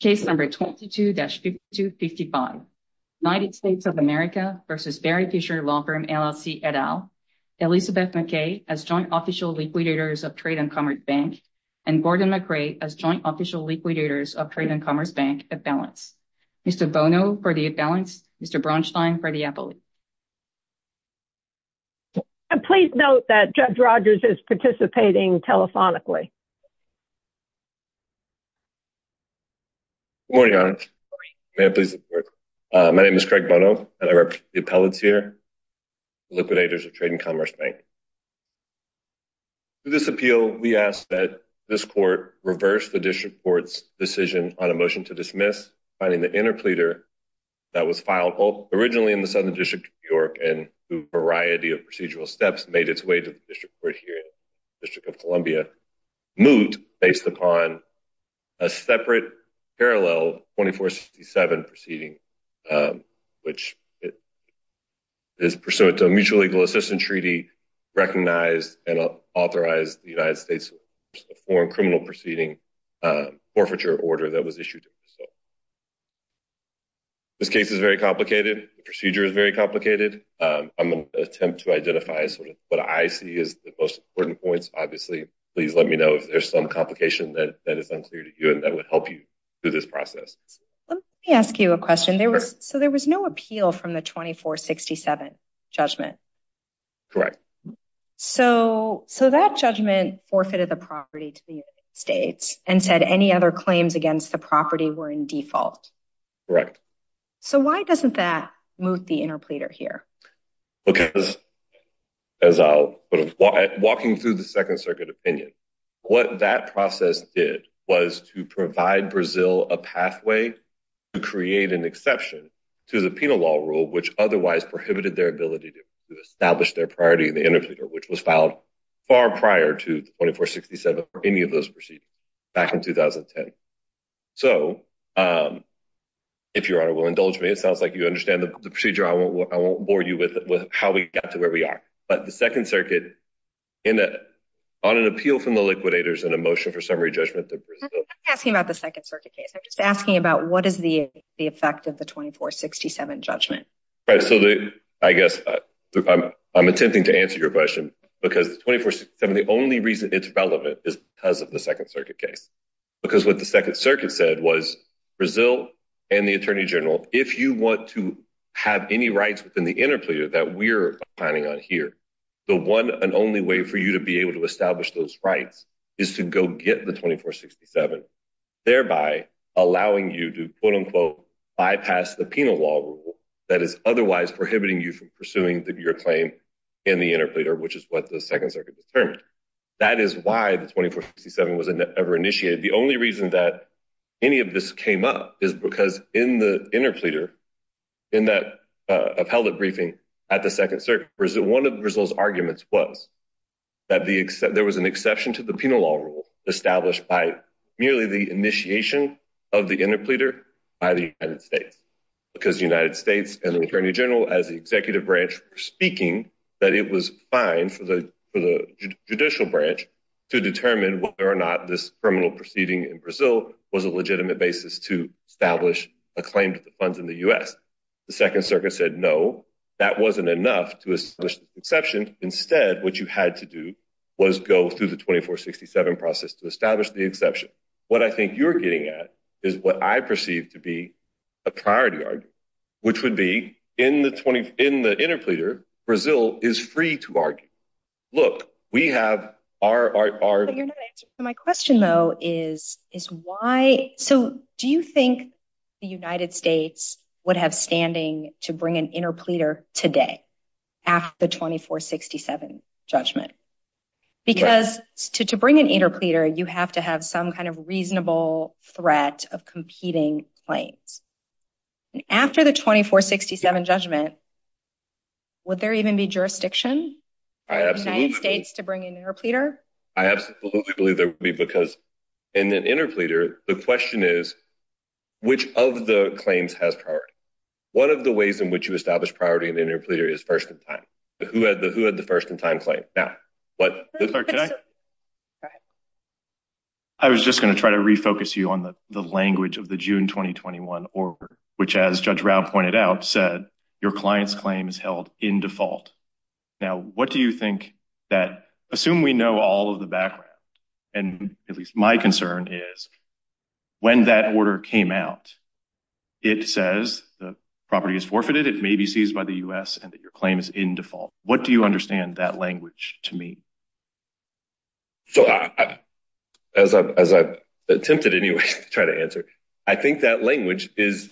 Case number 22-5255, United States of America v. Barry Fischer Law Firm, LLC, et al., Elizabeth McKay as joint official liquidators of Trade and Commerce Bank, and Gordon McRae as joint official liquidators of Trade and Commerce Bank, at Balance. Mr. Bono for the at Balance, Mr. Braunstein for the Appellate. Please note that Judge Rogers is participating telephonically. Good morning, Your Honor. May I please have the floor? My name is Craig Bono, and I represent the Appellate here, liquidators of Trade and Commerce Bank. Through this appeal, we ask that this court reverse the District Court's decision on a motion to dismiss, finding the interpleader that was filed originally in the Southern District of New York, and through a variety of procedural steps, made its way to the District Court here in the District of Columbia, moot based upon a separate parallel 24-67 proceeding, which is pursuant to a mutual legal assistance treaty recognized and authorized by the United States Foreign Criminal Proceeding forfeiture order that was issued. This case is very complicated. The procedure is very complicated. I'm going to attempt to identify what I see as the most important points. Obviously, please let me know if there's some complication that is unclear to you and that would help you through this process. Let me ask you a question. So there was no appeal from the 24-67 judgment? Correct. So that judgment forfeited the property to the United States and said any other claims against the property were in default? Correct. So why doesn't that moot the interpleader here? Walking through the Second Circuit opinion, what that process did was to provide Brazil a pathway to create an exception to the penal law rule, which otherwise prohibited their ability to establish their priority in the interpleader, which was filed far prior to 24-67 for any of those proceedings back in 2010. So, if Your Honor will indulge me, it sounds like you understand the procedure. I won't bore you with how we got to where we are. But the Second Circuit, on an appeal from the liquidators and a motion for summary judgment... I'm not asking about the Second Circuit case. I'm just asking about what is the effect of the 24-67 judgment? I guess I'm attempting to answer your question because the 24-67, the only reason it's relevant is because of the Second Circuit case. Because what the Second Circuit said was Brazil and the Attorney General, if you want to have any rights within the interpleader that we're planning on here, the one and only way for you to be able to establish those rights is to go get the 24-67. Thereby allowing you to, quote-unquote, bypass the penal law rule that is otherwise prohibiting you from pursuing your claim in the interpleader, which is what the Second Circuit determined. That is why the 24-67 was never initiated. The only reason that any of this came up is because in the interpleader, in that appellate briefing at the Second Circuit, one of Brazil's arguments was that there was an exception to the penal law rule... ...established by merely the initiation of the interpleader by the United States. Because the United States and the Attorney General as the executive branch were speaking that it was fine for the judicial branch to determine whether or not this criminal proceeding in Brazil was a legitimate basis to establish a claim to the funds in the U.S. The Second Circuit said, no, that wasn't enough to establish the exception. Instead, what you had to do was go through the 24-67 process to establish the exception. What I think you're getting at is what I perceive to be a priority argument, which would be in the interpleader, Brazil is free to argue. Look, we have our... My question, though, is why... So do you think the United States would have standing to bring an interpleader today after the 24-67 judgment? Because to bring an interpleader, you have to have some kind of reasonable threat of competing claims. After the 24-67 judgment, would there even be jurisdiction for the United States to bring an interpleader? I absolutely believe there would be, because in the interpleader, the question is, which of the claims has priority? One of the ways in which you establish priority in the interpleader is first in time. Who had the first in time claim? I was just going to try to refocus you on the language of the June 2021 order, which, as Judge Rao pointed out, said your client's claim is held in default. Now, what do you think that... Assume we know all of the background, and at least my concern is when that order came out, it says the property is forfeited. It may be seized by the U.S. and that your claim is in default. What do you understand that language to mean? So, as I've attempted anyway to try to answer, I think that language is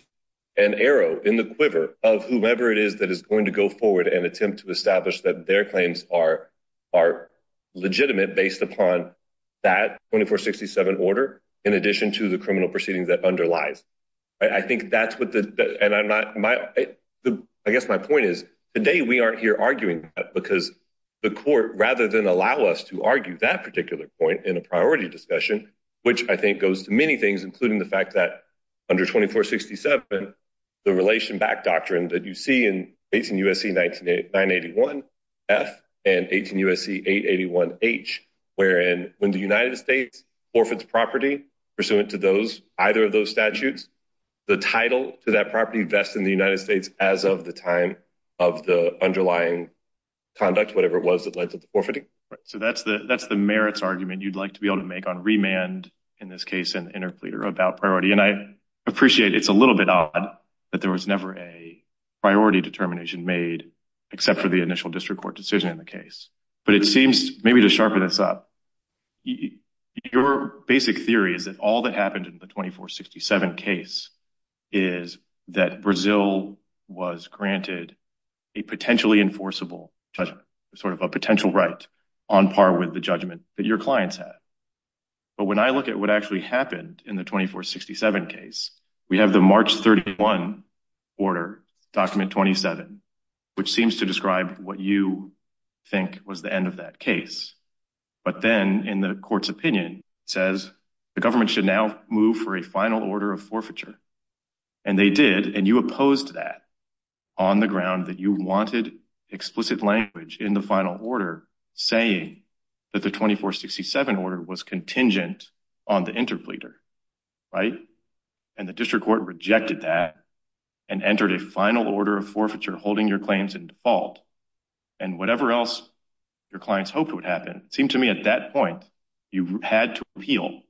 an arrow in the quiver of whomever it is that is going to go forward and attempt to establish that their claims are legitimate based upon that 24-67 order, in addition to the criminal proceedings that underlies. I think that's what the... I guess my point is, today we aren't here arguing that because the court, rather than allow us to argue that particular point in a priority discussion, which I think goes to many things, including the fact that under 24-67, the relation back doctrine that you see in 18 U.S.C. 981F and 18 U.S.C. 881H, wherein when the United States forfeits property pursuant to either of those statutes, the title to that property vests in the United States as of the time of the underlying conduct, whatever it was that led to the forfeiting. Right. So that's the merits argument you'd like to be able to make on remand in this case and interpleader about priority. And I appreciate it's a little bit odd that there was never a priority determination made except for the initial district court decision in the case. But it seems maybe to sharpen this up, your basic theory is that all that happened in the 24-67 case is that Brazil was granted a potentially enforceable judgment, sort of a potential right on par with the judgment that your clients had. But when I look at what actually happened in the 24-67 case, we have the March 31 order document 27, which seems to describe what you think was the end of that case. But then in the court's opinion says the government should now move for a final order of forfeiture. And they did. And you opposed that on the ground that you wanted explicit language in the final order, saying that the 24-67 order was contingent on the interpleader. Right. And the district court rejected that and entered a final order of forfeiture, holding your claims in default. And whatever else your clients hoped would happen, it seemed to me at that point, you had to appeal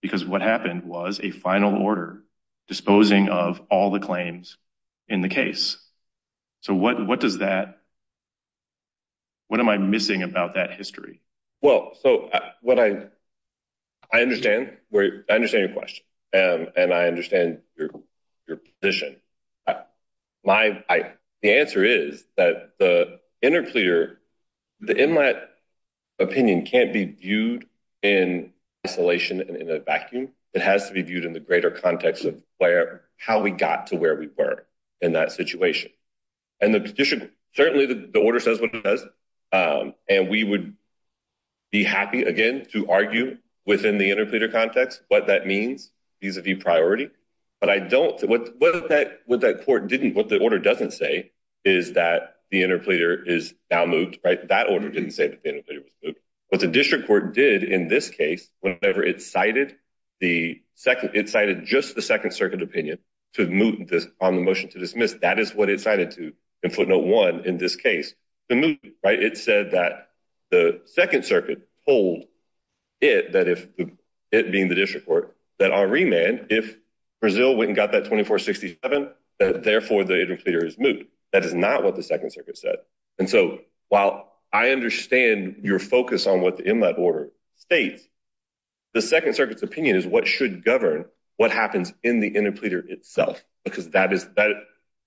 because what happened was a final order disposing of all the claims in the case. So what does that, what am I missing about that history? Well, so what I, I understand, I understand your question and I understand your position. My, the answer is that the interpleader, in my opinion, can't be viewed in isolation and in a vacuum. It has to be viewed in the greater context of where, how we got to where we were in that situation. And the district, certainly the order says what it does, and we would be happy again to argue within the interpleader context what that means vis-a-vis priority. But I don't, what that court didn't, what the order doesn't say is that the interpleader is now moved. Right. That order didn't say that the interpleader was moved. What the district court did in this case, whenever it cited the second, it cited just the second circuit opinion to move this on the motion to dismiss, that is what it cited to in footnote one in this case. Right. It said that the second circuit hold it, that if it being the district court, that our remand, if Brazil went and got that 2467, therefore the interpleader is moved. That is not what the second circuit said. And so while I understand your focus on what the in that order states, the second circuit's opinion is what should govern what happens in the interpleader itself. Because that is that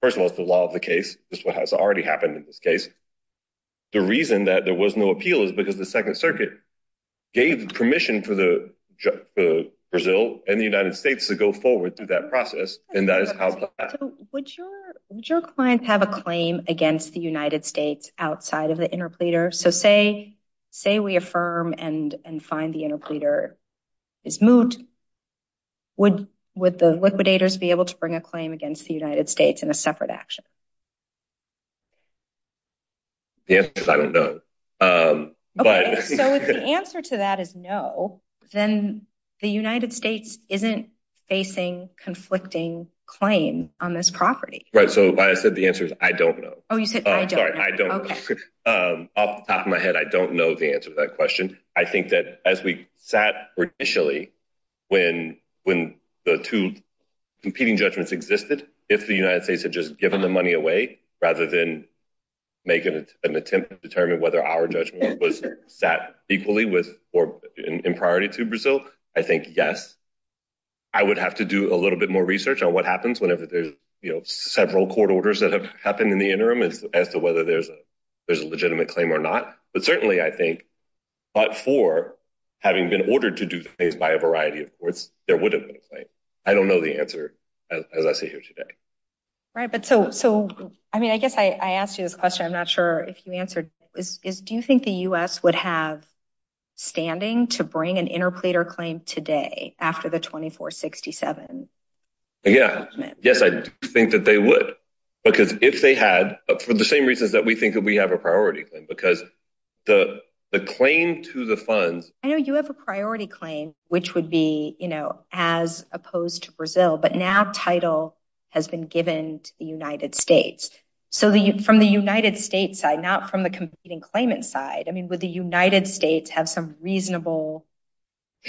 first of all, it's the law of the case is what has already happened in this case. The reason that there was no appeal is because the second circuit gave permission for the Brazil and the United States to go forward through that process. And that is how would your clients have a claim against the United States outside of the interpleader? So say, say, we affirm and and find the interpleader is moved. Would would the liquidators be able to bring a claim against the United States in a separate action? Yes, I don't know. But the answer to that is no. Then the United States isn't facing conflicting claim on this property. Right. So I said the answer is I don't know. Oh, you said I don't I don't. Off the top of my head, I don't know the answer to that question. I think that as we sat initially when when the two competing judgments existed, if the United States had just given the money away rather than make an attempt to determine whether our judgment was set equally with or in priority to Brazil. I think, yes, I would have to do a little bit more research on what happens whenever there's several court orders that have happened in the interim as to whether there's a there's a legitimate claim or not. But certainly, I think, but for having been ordered to do things by a variety of courts, there would have been a claim. I don't know the answer, as I sit here today. Right. But so so I mean, I guess I asked you this question. I'm not sure if you answered is do you think the U.S. would have standing to bring an interpleader claim today after the 2467? Yeah. Yes, I think that they would, because if they had for the same reasons that we think that we have a priority because the the claim to the funds. I know you have a priority claim, which would be, you know, as opposed to Brazil. But now title has been given to the United States. So from the United States side, not from the competing claimant side, I mean, with the United States have some reasonable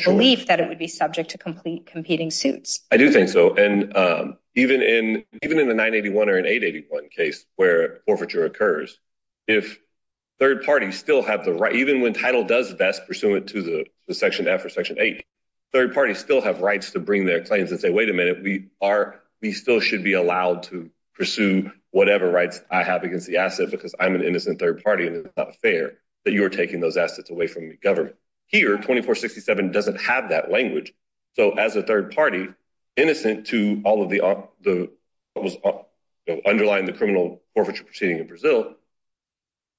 belief that it would be subject to complete competing suits. I do think so. And even in even in the 981 or an 881 case where forfeiture occurs, if third parties still have the right, even when title does best pursuant to the Section F or Section eight, third parties still have rights to bring their claims and say, wait a minute. We are we still should be allowed to pursue whatever rights I have against the asset, because I'm an innocent third party and it's not fair that you're taking those assets away from the government here. And 2467 doesn't have that language. So as a third party, innocent to all of the the underlying the criminal forfeiture proceeding in Brazil,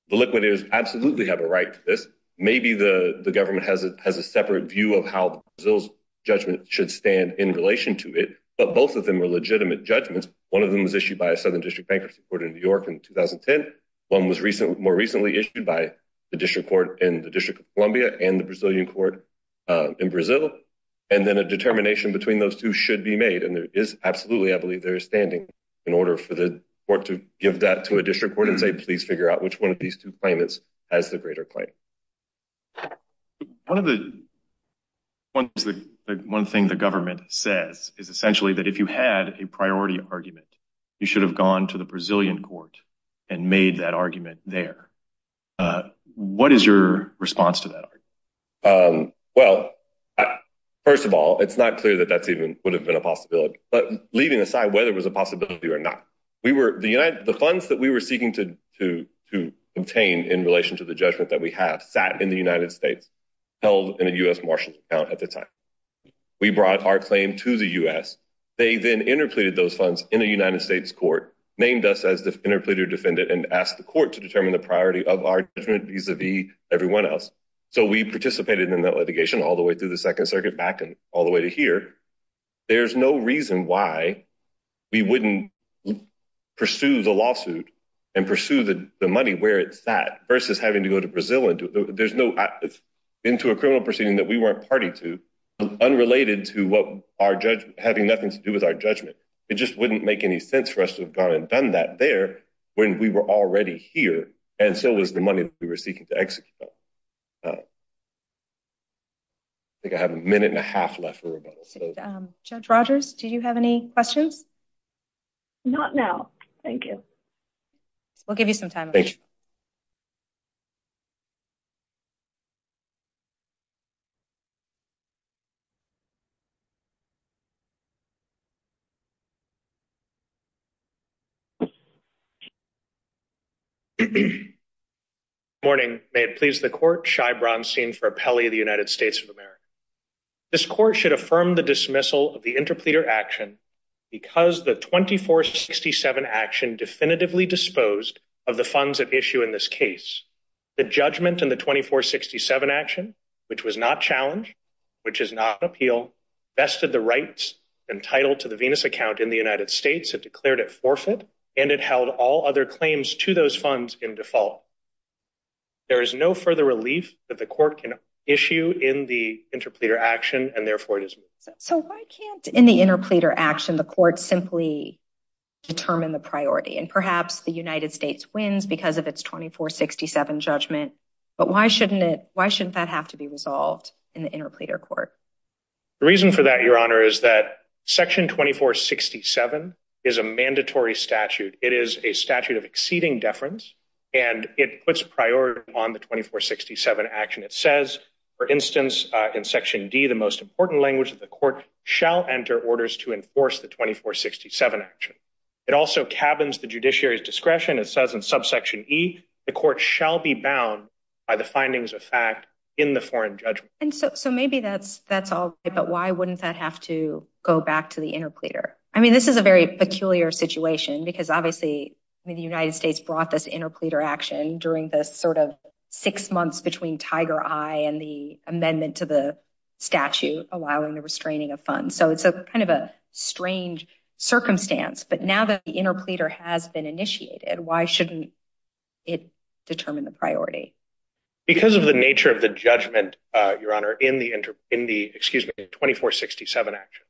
the liquidators absolutely have a right to this. Maybe the government has a has a separate view of how those judgments should stand in relation to it. But both of them are legitimate judgments. One of them was issued by a southern district bankruptcy court in New York in 2010. One was more recently issued by the district court in the District of Columbia and the Brazilian court in Brazil. And then a determination between those two should be made. And there is absolutely, I believe, their standing in order for the court to give that to a district court and say, please figure out which one of these two claimants has the greater claim. One of the. One thing the government says is essentially that if you had a priority argument, you should have gone to the Brazilian court and made that argument there. What is your response to that? Well, first of all, it's not clear that that's even would have been a possibility. But leaving aside whether it was a possibility or not, we were the the funds that we were seeking to to to obtain in relation to the judgment that we have sat in the United States held in a U.S. Marshall account at the time. We brought our claim to the U.S. They then interpleaded those funds in the United States court, named us as the interpleader defendant and asked the court to determine the priority of our judgment vis-a-vis everyone else. So we participated in that litigation all the way through the Second Circuit back and all the way to here. There's no reason why we wouldn't pursue the lawsuit and pursue the money where it's that versus having to go to Brazil. And there's no into a criminal proceeding that we weren't party to unrelated to what our judge having nothing to do with our judgment. It just wouldn't make any sense for us to have gone and done that there when we were already here. And so was the money we were seeking to execute. I think I have a minute and a half left. Judge Rogers, do you have any questions? Not now. Thank you. We'll give you some time. Morning. May it please the court. Shy Bronstein for Pele, the United States of America. This court should affirm the dismissal of the interpleader action because the twenty four sixty seven action definitively disposed of the funds at issue in this case. The judgment in the twenty four sixty seven action, which was not challenged, which is not appeal. Vested the rights and title to the Venus account in the United States and declared it forfeit. And it held all other claims to those funds in default. There is no further relief that the court can issue in the interpleader action, and therefore it is. So I can't in the interpleader action, the court simply determine the priority and perhaps the United States wins because of its twenty four sixty seven judgment. But why shouldn't it? Why shouldn't that have to be resolved in the interpleader court? The reason for that, your honor, is that section twenty four sixty seven is a mandatory statute. It is a statute of exceeding deference and it puts priority on the twenty four sixty seven action. It says, for instance, in Section D, the most important language of the court shall enter orders to enforce the twenty four sixty seven action. It also cabins the judiciary's discretion. It says in subsection E, the court shall be bound by the findings of fact in the foreign judgment. And so maybe that's that's all. But why wouldn't that have to go back to the interpleader? I mean, this is a very peculiar situation because obviously the United States brought this interpleader action during the sort of six months between Tiger Eye and the amendment to the statute, allowing the restraining of funds. So it's a kind of a strange circumstance. But now that the interpleader has been initiated, why shouldn't it determine the priority? Because of the nature of the judgment, your honor, in the in the excuse me, twenty four sixty seven action.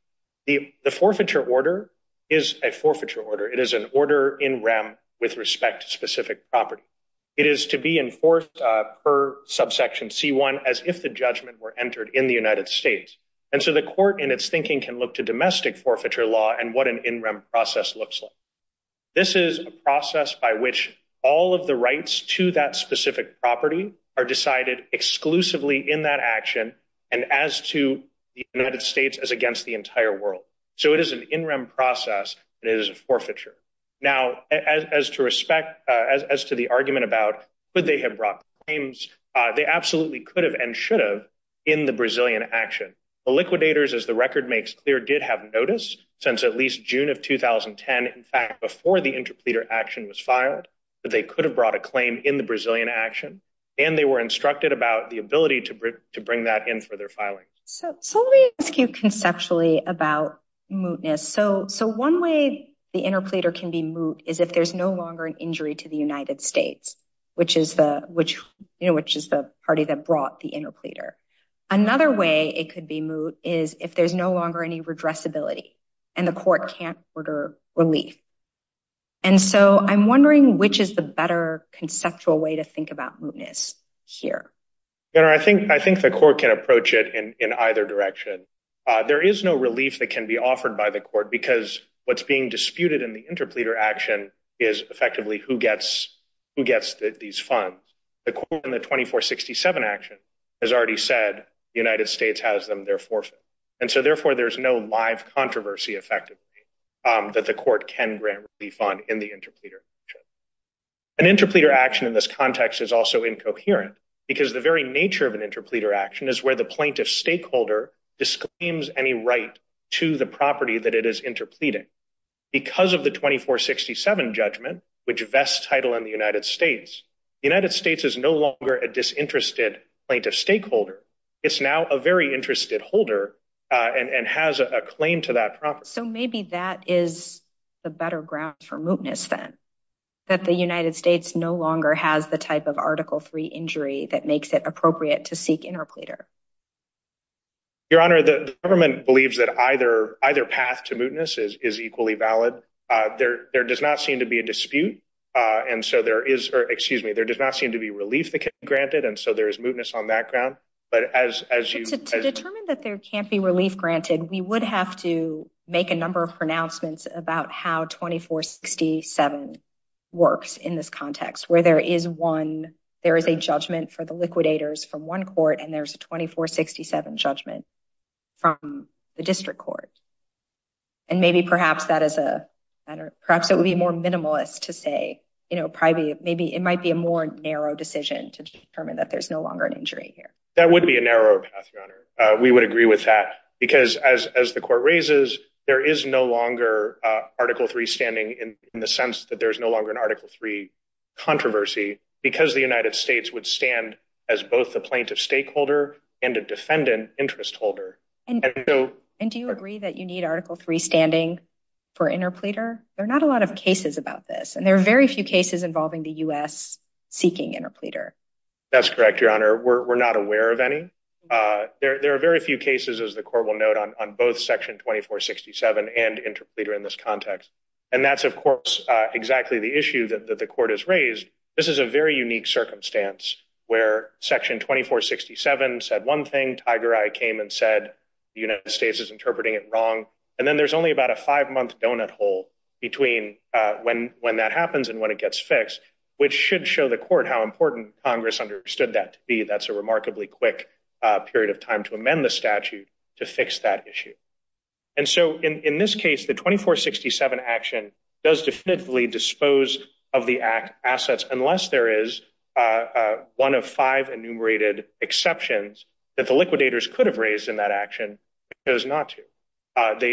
The forfeiture order is a forfeiture order. It is an order in rem with respect to specific property. It is to be enforced per subsection C1 as if the judgment were entered in the United States. And so the court in its thinking can look to domestic forfeiture law and what an in rem process looks like. This is a process by which all of the rights to that specific property are decided exclusively in that action. And as to the United States as against the entire world. So it is an in rem process. It is a forfeiture. Now, as to respect as to the argument about what they have brought claims, they absolutely could have and should have in the Brazilian action. The liquidators, as the record makes clear, did have notice since at least June of 2010. In fact, before the interpleader action was filed, that they could have brought a claim in the Brazilian action. And they were instructed about the ability to to bring that in for their filing. So let me ask you conceptually about mootness. So so one way the interpleader can be moot is if there's no longer an injury to the United States, which is the which you know, which is the party that brought the interpleader. Another way it could be moot is if there's no longer any redress ability and the court can't order relief. And so I'm wondering which is the better conceptual way to think about mootness here. I think I think the court can approach it in either direction. There is no relief that can be offered by the court because what's being disputed in the interpleader action is effectively who gets who gets these funds. The court in the 2467 action has already said the United States has them their forfeit. And so therefore, there's no live controversy effectively that the court can grant refund in the interpleader. An interpleader action in this context is also incoherent because the very nature of an interpleader action is where the plaintiff stakeholder disclaims any right to the property that it is interpleading. Because of the 2467 judgment, which vests title in the United States, the United States is no longer a disinterested plaintiff stakeholder. It's now a very interested holder and has a claim to that property. So maybe that is the better ground for mootness then that the United States no longer has the type of Article 3 injury that makes it appropriate to seek interpleader. Your Honor, the government believes that either either path to mootness is equally valid. There does not seem to be a dispute. And so there is or excuse me, there does not seem to be relief granted. And so there is mootness on that ground. But as you determine that there can't be relief granted, we would have to make a number of pronouncements about how 2467 works in this context where there is one. There is a judgment for the liquidators from one court and there's a 2467 judgment from the district court. And maybe perhaps that is a perhaps it would be more minimalist to say, you know, maybe it might be a more narrow decision to determine that there's no longer an injury here. That would be a narrow path, Your Honor. We would agree with that because as the court raises, there is no longer Article 3 standing in the sense that there's no longer an Article 3 controversy because the United States would stand as both the plaintiff stakeholder and a defendant interest holder. And do you agree that you need Article 3 standing for interpleader? There are not a lot of cases about this, and there are very few cases involving the U.S. seeking interpleader. That's correct, Your Honor. We're not aware of any. There are very few cases, as the court will note, on both Section 2467 and interpleader in this context. And that's, of course, exactly the issue that the court has raised. This is a very unique circumstance where Section 2467 said one thing, Tiger Eye came and said the United States is interpreting it wrong. And then there's only about a five-month donut hole between when that happens and when it gets fixed, which should show the court how important Congress understood that to be. That's a remarkably quick period of time to amend the statute to fix that issue. And so in this case, the 2467 action does definitively dispose of the assets unless there is one of five enumerated exceptions that the liquidators could have raised in that action and chose not to.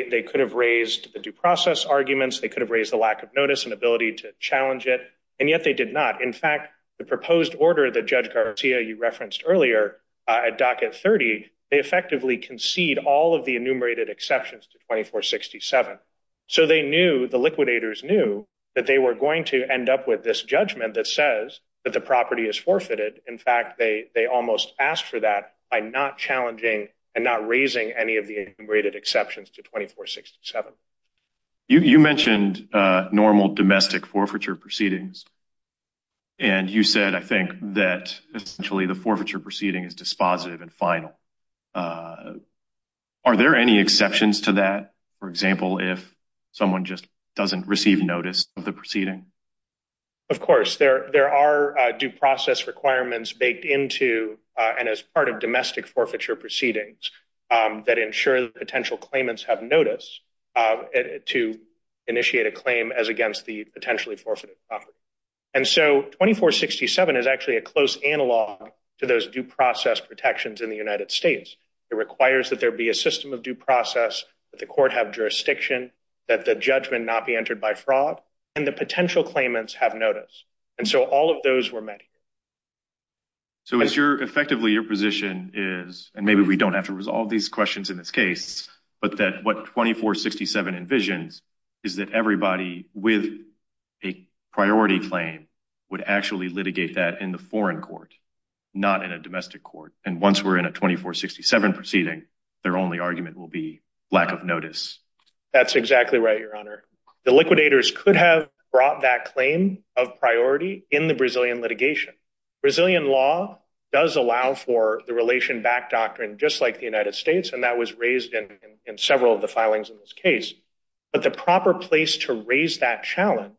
They could have raised the due process arguments. They could have raised the lack of notice and ability to challenge it. And yet they did not. In fact, the proposed order that Judge Garcia, you referenced earlier at Docket 30, they effectively concede all of the enumerated exceptions to 2467. So they knew, the liquidators knew, that they were going to end up with this judgment that says that the property is forfeited. In fact, they almost asked for that by not challenging and not raising any of the enumerated exceptions to 2467. You mentioned normal domestic forfeiture proceedings. And you said, I think, that essentially the forfeiture proceeding is dispositive and final. Are there any exceptions to that? For example, if someone just doesn't receive notice of the proceeding? Of course. There are due process requirements baked into and as part of domestic forfeiture proceedings that ensure that potential claimants have notice to initiate a claim as against the potentially forfeited property. And so 2467 is actually a close analog to those due process protections in the United States. It requires that there be a system of due process, that the court have jurisdiction, that the judgment not be entered by fraud, and the potential claimants have notice. And so all of those were met. So it's your, effectively, your position is, and maybe we don't have to resolve these questions in this case, but that what 2467 envisions is that everybody with a priority claim would actually litigate that in the foreign court, not in a domestic court. And once we're in a 2467 proceeding, their only argument will be lack of notice. That's exactly right, Your Honor. The liquidators could have brought that claim of priority in the Brazilian litigation. Brazilian law does allow for the relation back doctrine, just like the United States, and that was raised in several of the filings in this case. But the proper place to raise that challenge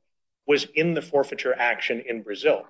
was in the forfeiture action in Brazil.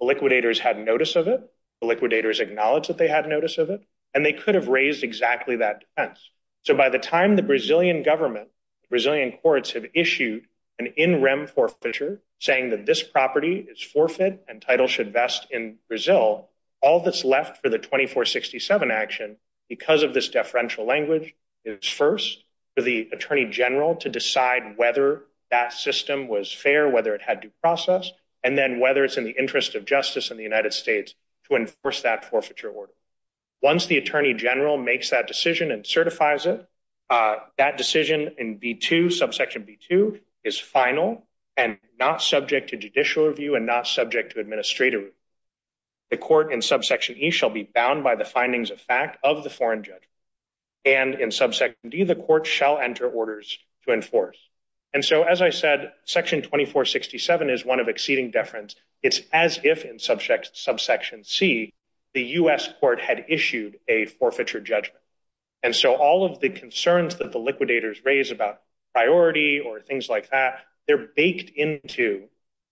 The liquidators had notice of it, the liquidators acknowledged that they had notice of it, and they could have raised exactly that defense. So by the time the Brazilian government, Brazilian courts have issued an in rem forfeiture saying that this property is forfeit and title should vest in Brazil, all that's left for the 2467 action, because of this deferential language, is first for the attorney general to decide whether that system was fair, whether it had due process, and then whether it's in the interest of justice in the United States to enforce that forfeiture order. Once the attorney general makes that decision and certifies it, that decision in B2, subsection B2, is final and not subject to judicial review and not subject to administrative review. The court in subsection E shall be bound by the findings of fact of the foreign judge, and in subsection D the court shall enter orders to enforce. And so as I said, section 2467 is one of exceeding deference. It's as if in subsection C, the U.S. court had issued a forfeiture judgment. And so all of the concerns that the liquidators raise about priority or things like that, they're baked into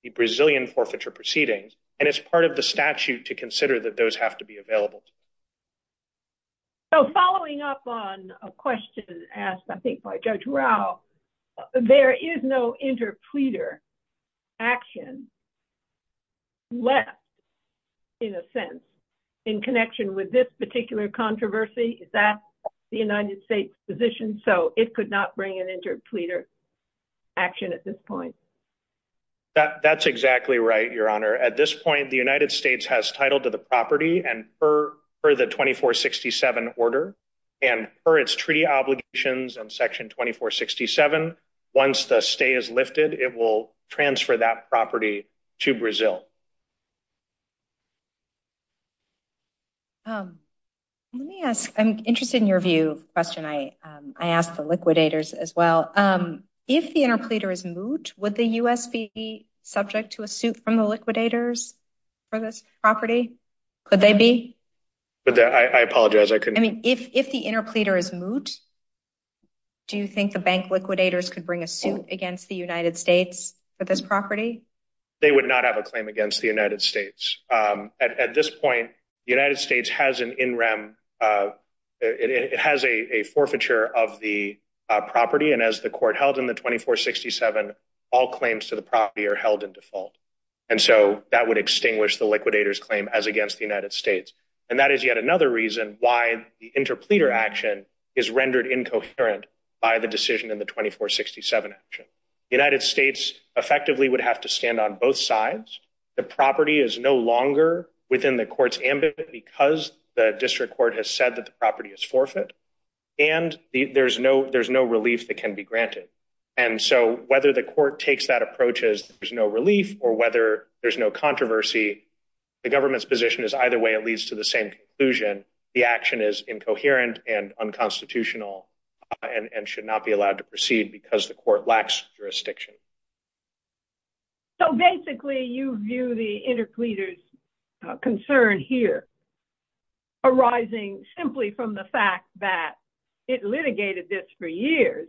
the Brazilian forfeiture proceedings, and it's part of the statute to consider that those have to be available. So following up on a question asked, I think, by Judge Rao, there is no interpleader action left, in a sense, in connection with this particular controversy? Is that the United States' position? So it could not bring an interpleader action at this point? That's exactly right, Your Honor. At this point, the United States has title to the property and per the 2467 order, and per its treaty obligations in section 2467, once the stay is lifted, it will transfer that property to Brazil. Let me ask. I'm interested in your view, question. I asked the liquidators as well. If the interpleader is moot, would the U.S. be subject to a suit from the liquidators for this property? Could they be? I apologize. I couldn't. I mean, if the interpleader is moot, do you think the bank liquidators could bring a suit against the United States for this property? They would not have a claim against the United States. At this point, the United States has an in rem. It has a forfeiture of the property. And as the court held in the 2467, all claims to the property are held in default. And so that would extinguish the liquidators claim as against the United States. And that is yet another reason why the interpleader action is rendered incoherent by the decision in the 2467 action. The United States effectively would have to stand on both sides. The property is no longer within the court's ambit because the district court has said that the property is forfeit. And there's no relief that can be granted. And so whether the court takes that approach as there's no relief or whether there's no controversy, the government's position is either way it leads to the same conclusion. The action is incoherent and unconstitutional and should not be allowed to proceed because the court lacks jurisdiction. So basically, you view the interpleaders concern here arising simply from the fact that it litigated this for years,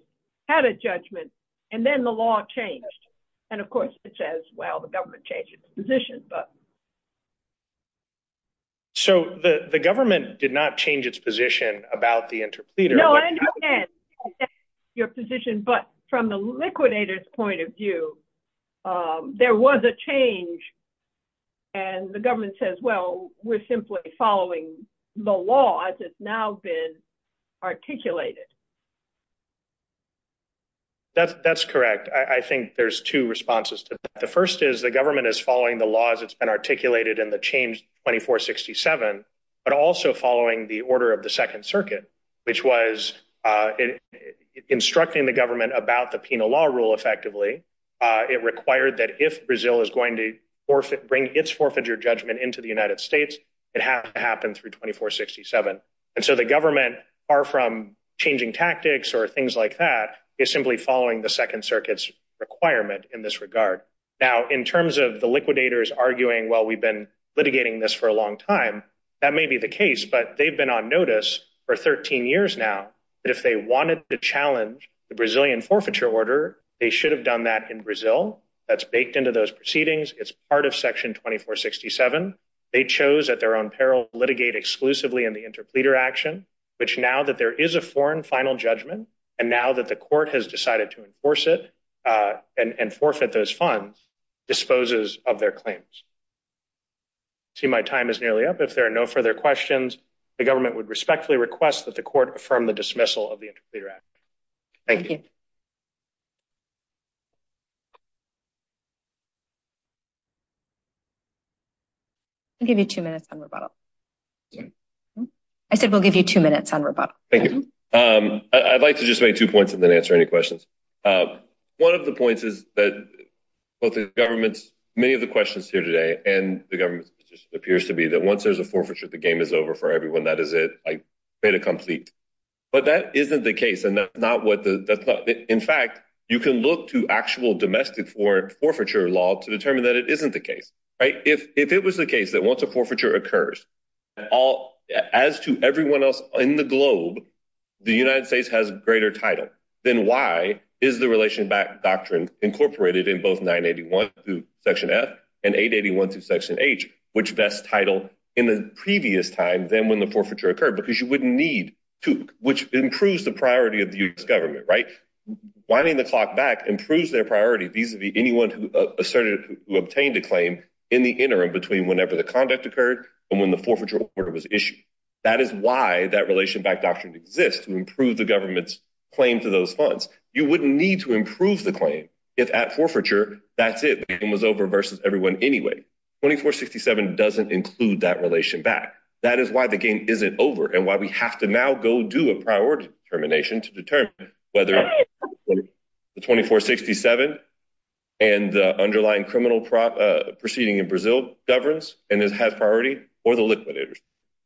had a judgment, and then the law changed. And of course, it says, well, the government changed its position. So the government did not change its position about the interpleader. No, I understand your position. But from the liquidators point of view, there was a change. And the government says, well, we're simply following the law as it's now been articulated. That's correct. I think there's two responses to that. The first is the government is following the laws that's been articulated in the change 2467, but also following the order of the Second Circuit, which was instructing the government about the penal law rule effectively. It required that if Brazil is going to bring its forfeiture judgment into the United States, it has to happen through 2467. And so the government, far from changing tactics or things like that, is simply following the Second Circuit's requirement in this regard. Now, in terms of the liquidators arguing, well, we've been litigating this for a long time, that may be the case. But they've been on notice for 13 years now that if they wanted to challenge the Brazilian forfeiture order, they should have done that in Brazil. That's baked into those proceedings. It's part of Section 2467. They chose at their own peril to litigate exclusively in the interpleader action, which now that there is a foreign final judgment, and now that the court has decided to enforce it and forfeit those funds, disposes of their claims. See, my time is nearly up. If there are no further questions, the government would respectfully request that the court affirm the dismissal of the interpleader action. Thank you. I'll give you two minutes on rebuttal. I said we'll give you two minutes on rebuttal. Thank you. I'd like to just make two points and then answer any questions. One of the points is that both the government's, many of the questions here today and the government's position appears to be that once there's a forfeiture, the game is over for everyone. That is it. But that isn't the case. In fact, you can look to actual domestic for forfeiture law to determine that it isn't the case. If it was the case that once a forfeiture occurs, as to everyone else in the globe, the United States has greater title. Then why is the relation back doctrine incorporated in both 981 through section F and 881 through section H, which best title in the previous time than when the forfeiture occurred because you wouldn't need to, which improves the priority of the government. Right? Whining the clock back improves their priority vis-a-vis anyone who ascertained who obtained a claim in the interim between whenever the conduct occurred and when the forfeiture order was issued. That is why that relation back doctrine exists to improve the government's claim to those funds. You wouldn't need to improve the claim. If at forfeiture, that's it. It was over versus everyone. Anyway, 2467 doesn't include that relation back. That is why the game isn't over and why we have to now go do a priority termination to determine whether the 2467 and the underlying criminal proceeding in Brazil governs and has priority or the liquidators.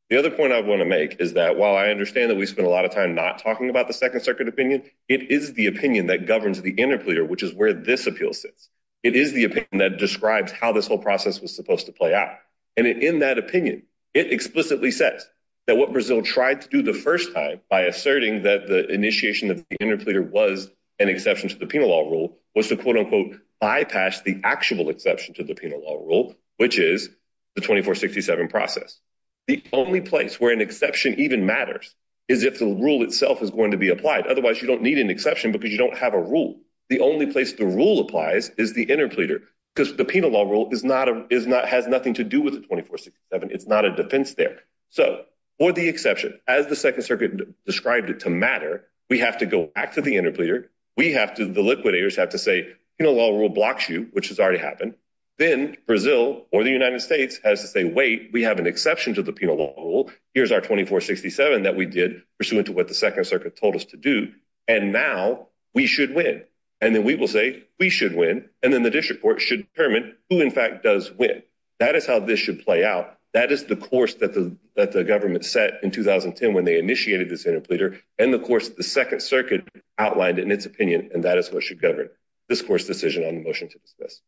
The other point I want to make is that while I understand that we spent a lot of time not talking about the second circuit opinion, it is the opinion that governs the interpreter, which is where this appeal sits. It is the opinion that describes how this whole process was supposed to play out. And in that opinion, it explicitly says that what Brazil tried to do the first time by asserting that the initiation of the interpreter was an exception to the penal law rule was to, quote, unquote, bypass the actual exception to the penal law rule, which is the 2467 process. The only place where an exception even matters is if the rule itself is going to be applied. Otherwise, you don't need an exception because you don't have a rule. The only place the rule applies is the interpreter because the penal law rule is not a is not has nothing to do with the 2467. It's not a defense there. So for the exception, as the second circuit described it to matter, we have to go back to the interpreter. We have to the liquidators have to say, you know, law rule blocks you, which has already happened. Then Brazil or the United States has to say, wait, we have an exception to the penal law rule. Here's our 2467 that we did pursuant to what the second circuit told us to do. And now we should win. And then we will say we should win. And then the district court should determine who, in fact, does win. That is how this should play out. That is the course that the that the government set in 2010 when they initiated this interpreter. And, of course, the second circuit outlined in its opinion. And that is what should govern this course decision on the motion to discuss.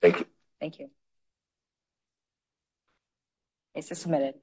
Thank you. Thank you. It's a submitted.